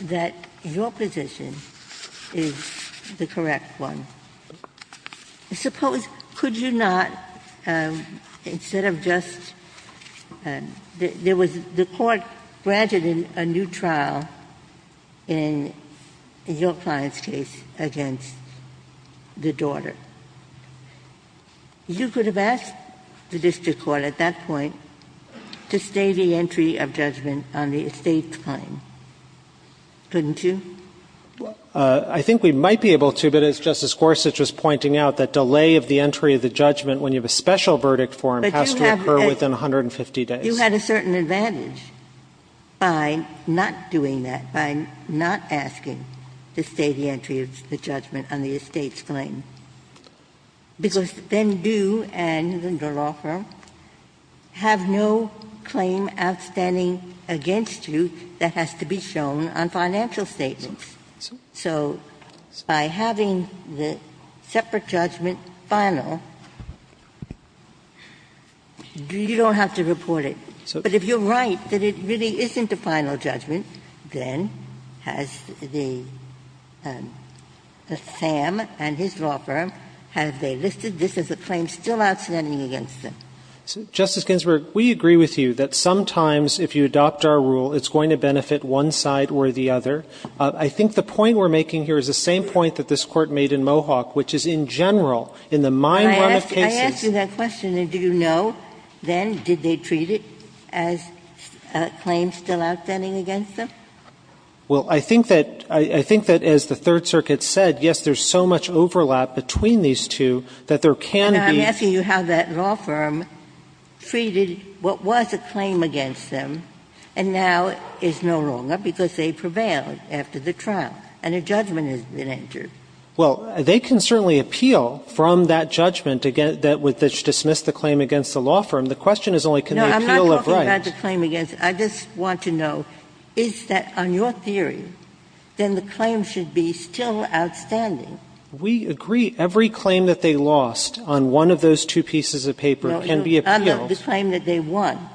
that your position is the correct one. Suppose, could you not, instead of just — there was the court granting the plaintiff a new trial in your client's case against the daughter. You could have asked the district court, at that point, to stay the entry of judgment on the estate claim, couldn't you? I think we might be able to, but as Justice Gorsuch was pointing out, that delay of the entry of the judgment when you have a special verdict for him has to occur within 150 days. You had a certain advantage by not doing that, by not asking to stay the entry of the judgment on the estate's claim, because then you and the law firm have no claim outstanding against you that has to be shown on financial statements. So by having the separate judgment final, you don't have to report it. But if you're right that it really isn't a final judgment, then has the — the SAM and his law firm, have they listed this as a claim still outstanding against them? Justice Ginsburg, we agree with you that sometimes, if you adopt our rule, it's going to benefit one side or the other. I think the point we're making here is the same point that this Court made in Mohawk, which is in general, in the mine run of cases — Ginsburg, I asked you that question, and do you know, then, did they treat it as a claim still outstanding against them? Well, I think that — I think that, as the Third Circuit said, yes, there's so much overlap between these two that there can be — And I'm asking you how that law firm treated what was a claim against them, and now is no longer, because they prevailed after the trial and a judgment has been entered. Well, they can certainly appeal from that judgment that would dismiss the claim against the law firm. The question is only, can they appeal it right? No, I'm not talking about the claim against — I just want to know, is that, on your theory, then the claim should be still outstanding? We agree. Every claim that they lost on one of those two pieces of paper can be appealed. I'm talking about the claim that they won,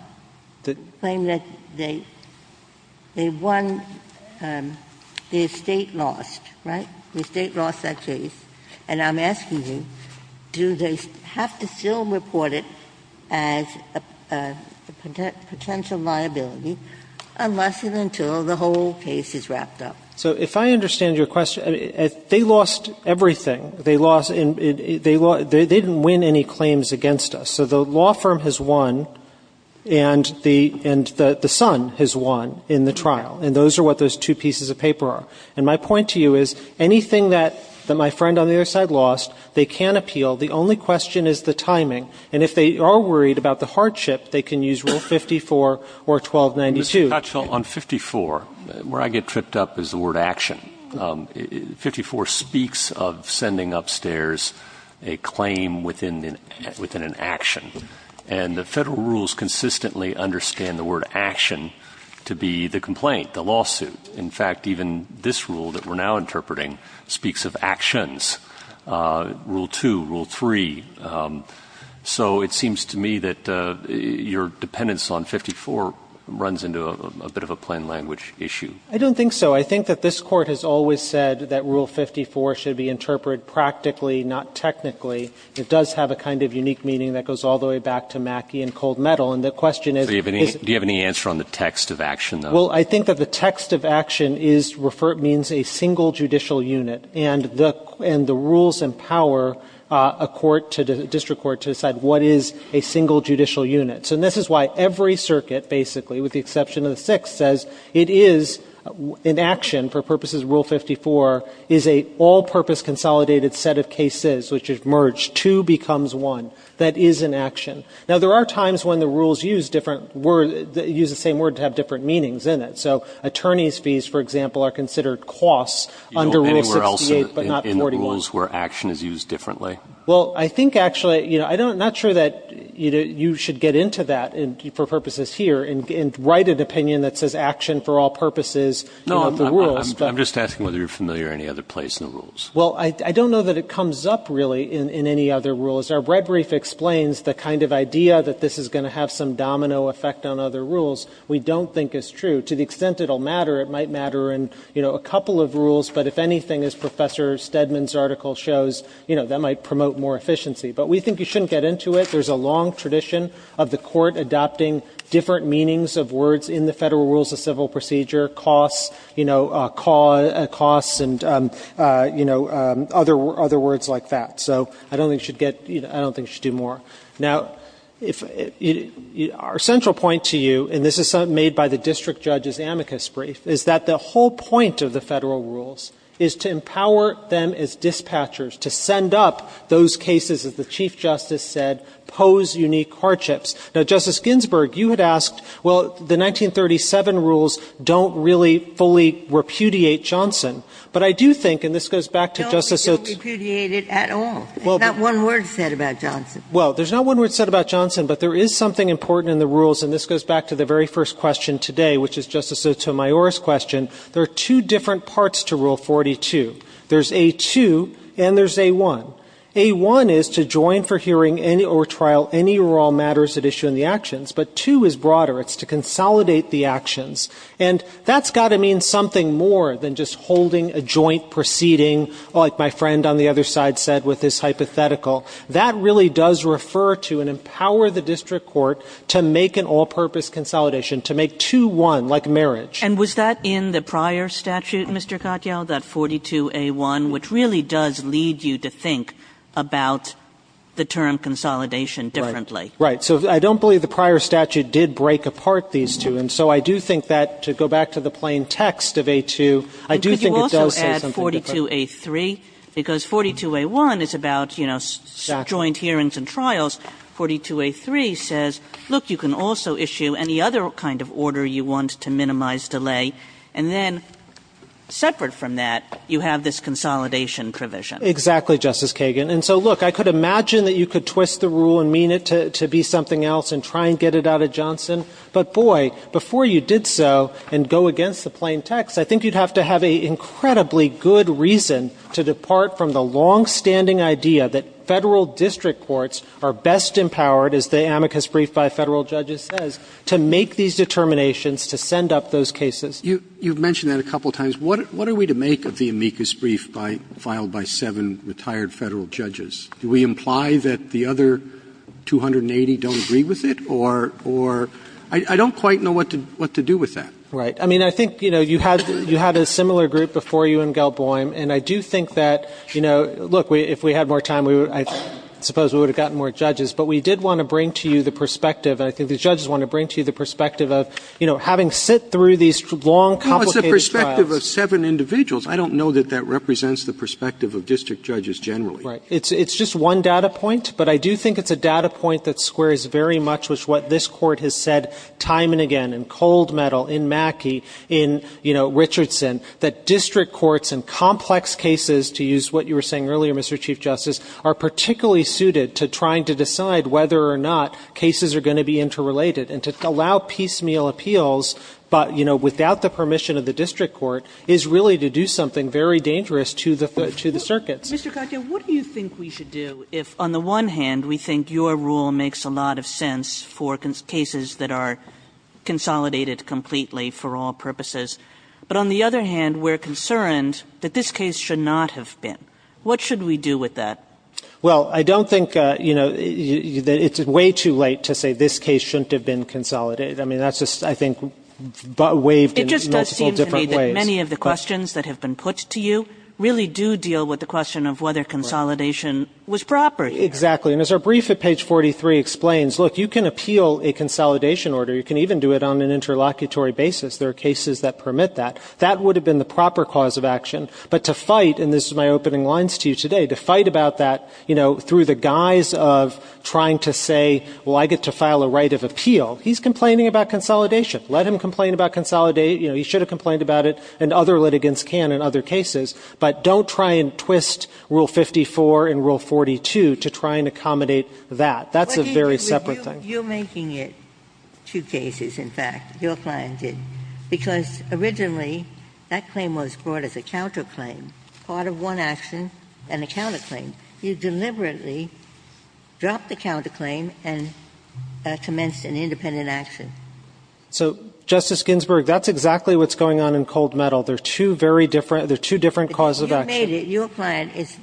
the claim that they won — the estate lost, right? The estate lost that case. And I'm asking you, do they have to still report it as a potential liability unless and until the whole case is wrapped up? So if I understand your question, they lost everything. They lost — they didn't win any claims against us. So the law firm has won, and the son has won in the trial, and those are what those two pieces of paper are. And my point to you is, anything that my friend on the other side lost, they can appeal. The only question is the timing. And if they are worried about the hardship, they can use Rule 54 or 1292. Mr. Cottrell, on 54, where I get tripped up is the word action. 54 speaks of sending upstairs a claim within an action. And the Federal rules consistently understand the word action to be the complaint, the lawsuit. In fact, even this rule that we're now interpreting speaks of actions, Rule 2, Rule 3. So it seems to me that your dependence on 54 runs into a bit of a plain-language issue. I don't think so. I think that this Court has always said that Rule 54 should be interpreted practically, not technically. It does have a kind of unique meaning that goes all the way back to Mackey and cold metal. And the question is — So do you have any answer on the text of action, though? Well, I think that the text of action is referred — means a single judicial unit. And the rules empower a court — a district court to decide what is a single judicial unit. So this is why every circuit, basically, with the exception of the Sixth, says it is — in action, for purposes of Rule 54, is a all-purpose consolidated set of cases which is merged. Two becomes one. That is an action. Now, there are times when the rules use different — use the same word to have different meanings in it. So attorneys' fees, for example, are considered costs under Rule 68, but not 48. You don't anywhere else in the rules where action is used differently? Well, I think, actually — you know, I'm not sure that you should get into that for purposes here and write an opinion that says action for all purposes in the rules. No, I'm just asking whether you're familiar in any other place in the rules. Well, I don't know that it comes up, really, in any other rules. Our red brief explains the kind of idea that this is going to have some domino effect on other rules. We don't think it's true. To the extent it will matter, it might matter in, you know, a couple of rules. But if anything, as Professor Stedman's article shows, you know, that might promote more efficiency. But we think you shouldn't get into it. There's a long tradition of the Court adopting different meanings of words in the Federal Rules of Civil Procedure, costs, you know, costs and, you know, other words like that. So I don't think it should get — you know, I don't think it should do more. Now, if — our central point to you, and this is something made by the district judge's amicus brief, is that the whole point of the Federal Rules is to empower them as dispatchers, to send up those cases, as the Chief Justice said, pose unique hardships. Now, Justice Ginsburg, you had asked, well, the 1937 rules don't really fully repudiate Johnson. But I do think — and this goes back to Justice — No, they don't repudiate it at all. There's not one word said about Johnson. Well, there's not one word said about Johnson. But there is something important in the rules, and this goes back to the very first question today, which is Justice Sotomayor's question. There are two different parts to Rule 42. There's A2 and there's A1. A1 is to join for hearing or trial any or all matters at issue in the actions. But 2 is broader. It's to consolidate the actions. And that's got to mean something more than just holding a joint proceeding, like my friend on the other side said with this hypothetical. That really does refer to and empower the district court to make an all-purpose consolidation, to make 2-1, like marriage. And was that in the prior statute, Mr. Katyal, that 42A1, which really does lead you to think about the term consolidation differently? Right. So I don't believe the prior statute did break apart these two. And so I do think that, to go back to the plain text of A2, I do think it does say something different. And could you also add 42A3? Because 42A1 is about, you know, joint hearings and trials. 42A3 says, look, you can also issue any other kind of order you want to minimize delay. And then, separate from that, you have this consolidation provision. Exactly, Justice Kagan. And so, look, I could imagine that you could twist the rule and mean it to be something else and try and get it out of Johnson. But, boy, before you did so and go against the plain text, I think you'd have to have an incredibly good reason to depart from the longstanding idea that Federal district courts are best empowered, as the amicus brief by Federal judges says, to make these determinations, to send up those cases. You've mentioned that a couple of times. What are we to make of the amicus brief filed by seven retired Federal judges? Do we imply that the other 280 don't agree with it? Or, I don't quite know what to do with that. Right. I mean, I think, you know, you had a similar group before you in Gelboim. And I do think that, you know, look, if we had more time, I suppose we would have gotten more judges. But we did want to bring to you the perspective, and I think the judges want to bring to you the perspective of, you know, having sit through these long, complicated trials. Well, it's the perspective of seven individuals. I don't know that that represents the perspective of district judges generally. Right. It's just one data point. But I do think it's a data point that squares very much with what this Court has said time and again in Cold Metal, in Mackey, in, you know, Richardson, that district courts and complex cases, to use what you were saying earlier, Mr. Chief Justice, are particularly suited to trying to decide whether or not cases are going to be interrelated. And to allow piecemeal appeals, but, you know, without the permission of the district court, is really to do something very dangerous to the circuits. Mr. Katyal, what do you think we should do if, on the one hand, we think your rule makes a lot of sense for cases that are consolidated completely for all purposes. But on the other hand, we're concerned that this case should not have been. What should we do with that? Well, I don't think, you know, that it's way too late to say this case shouldn't have been consolidated. I mean, that's just, I think, waived in multiple different ways. It just does seem to me that many of the questions that have been put to you really do deal with the question of whether consolidation was proper here. Exactly. And as our brief at page 43 explains, look, you can appeal a consolidation order. You can even do it on an interlocutory basis. There are cases that permit that. That would have been the proper cause of action. But to fight, and this is my opening lines to you today, to fight about that, you know, through the guise of trying to say, well, I get to file a right of appeal. He's complaining about consolidation. Let him complain about consolidate. You know, he should have complained about it, and other litigants can in other cases. But don't try and twist Rule 54 and Rule 42 to try and accommodate that. That's a very separate thing. You're making it two cases, in fact, your client did. Because originally, that claim was brought as a counterclaim, part of one action and a counterclaim. You deliberately dropped the counterclaim and commenced an independent action. So, Justice Ginsburg, that's exactly what's going on in cold metal. There are two very different – there are two different causes of action. Your client has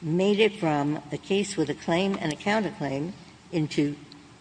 made it from a case with a claim and a counterclaim into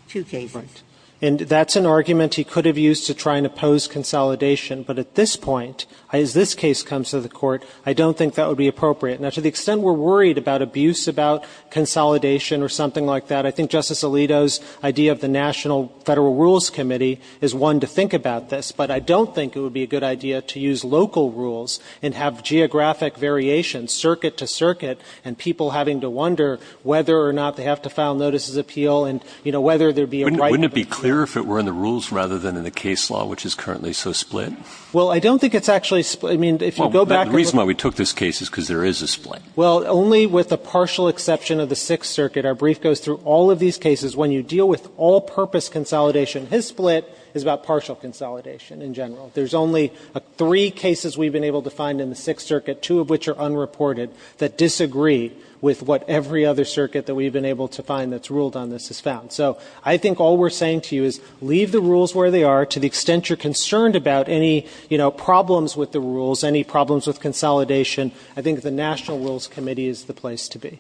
two cases. And that's an argument he could have used to try and oppose consolidation. But at this point, as this case comes to the Court, I don't think that would be appropriate. Now, to the extent we're worried about abuse about consolidation or something like that, I think Justice Alito's idea of the National Federal Rules Committee is one to think about this. But I don't think it would be a good idea to use local rules and have geographic variations, circuit to circuit, and people having to wonder whether or not they have to file notices of appeal and, you know, whether there'd be a right – Wouldn't it be clearer if it were in the rules rather than in the case law, which is currently so split? Well, I don't think it's actually – I mean, if you go back – The reason why we took this case is because there is a split. Well, only with a partial exception of the Sixth Circuit. Our brief goes through all of these cases. When you deal with all-purpose consolidation, his split is about partial consolidation in general. There's only three cases we've been able to find in the Sixth Circuit, two of which are unreported, that disagree with what every other circuit that we've been able to find that's ruled on this has found. So I think all we're saying to you is leave the rules where they are to the extent you're concerned about any, you know, problems with the rules, any problems with consolidation. I think the National Rules Committee is the place to be.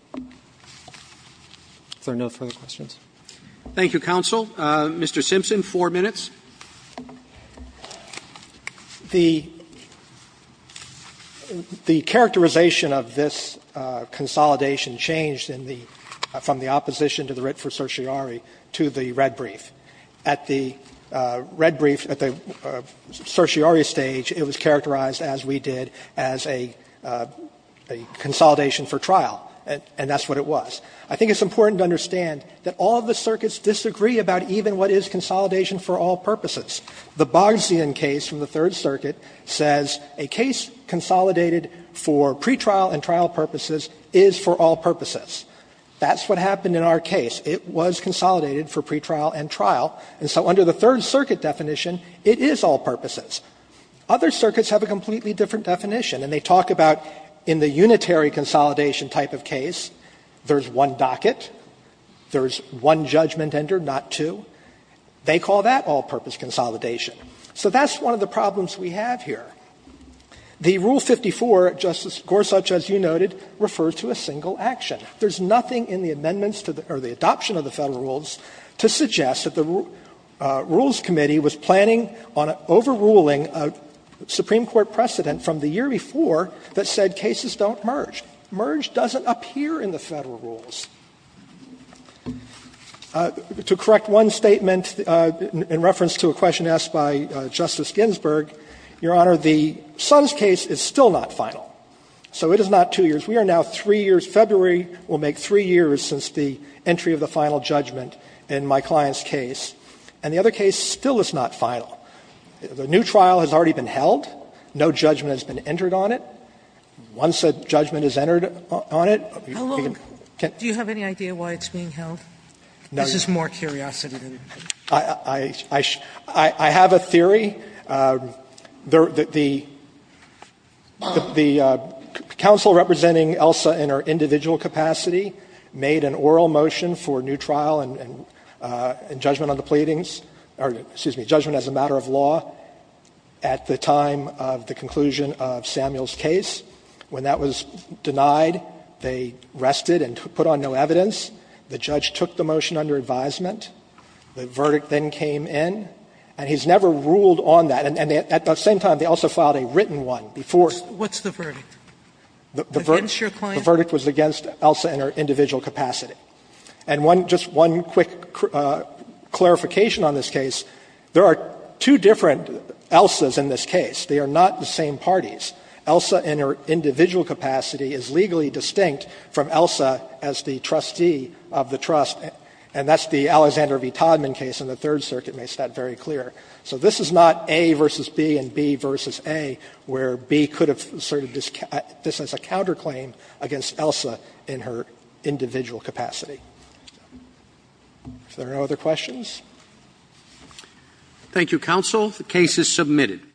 If there are no further questions. Roberts. Thank you, counsel. Mr. Simpson, four minutes. The characterization of this consolidation changed in the – from the opposition to the writ for certiorari to the red brief. At the red brief, at the certiorari stage, it was characterized, as we did, as a consolidation for trial, and that's what it was. I think it's important to understand that all of the circuits disagree about even what is consolidation for all purposes. The Boggsian case from the Third Circuit says a case consolidated for pretrial and trial purposes is for all purposes. That's what happened in our case. It was consolidated for pretrial and trial, and so under the Third Circuit definition, it is all purposes. Other circuits have a completely different definition, and they talk about in the unitary consolidation type of case, there's one docket, there's one judgment entered, not two. They call that all-purpose consolidation. So that's one of the problems we have here. The Rule 54, Justice Gorsuch, as you noted, refers to a single action. There's nothing in the amendments to the – or the adoption of the Federal Rules to suggest that the Rules Committee was planning on overruling a Supreme Court precedent from the year before that said cases don't merge. Merge doesn't appear in the Federal Rules. To correct one statement in reference to a question asked by Justice Ginsburg, Your Honor, the Sons case is still not final, so it is not two years. We are now three years – February will make three years since the entry of the final judgment in my client's case. And the other case still is not final. The new trial has already been held. No judgment has been entered on it. Once a judgment is entered on it, you can't do anything. Do you have any idea why it's being held? This is more curiosity than anything. I have a theory. The counsel representing ELSA in her individual capacity made an oral motion for new trial and judgment on the pleadings – or, excuse me, judgment as a matter of law at the time of the conclusion of Samuel's case. When that was denied, they rested and put on no evidence. The judge took the motion under advisement. The verdict then came in. And he's never ruled on that. And at the same time, they also filed a written one before. Sotomayor, What's the verdict? Against your client? The verdict was against ELSA in her individual capacity. And one – just one quick clarification on this case. There are two different ELSAs in this case. They are not the same parties. ELSA in her individual capacity is legally distinct from ELSA as the trustee of the trust. And that's the Alexander v. Todman case in the Third Circuit makes that very clear. So this is not A versus B and B versus A, where B could have asserted this as a counterclaim against ELSA in her individual capacity. Are there no other questions? Roberts. Thank you, counsel. The case is submitted.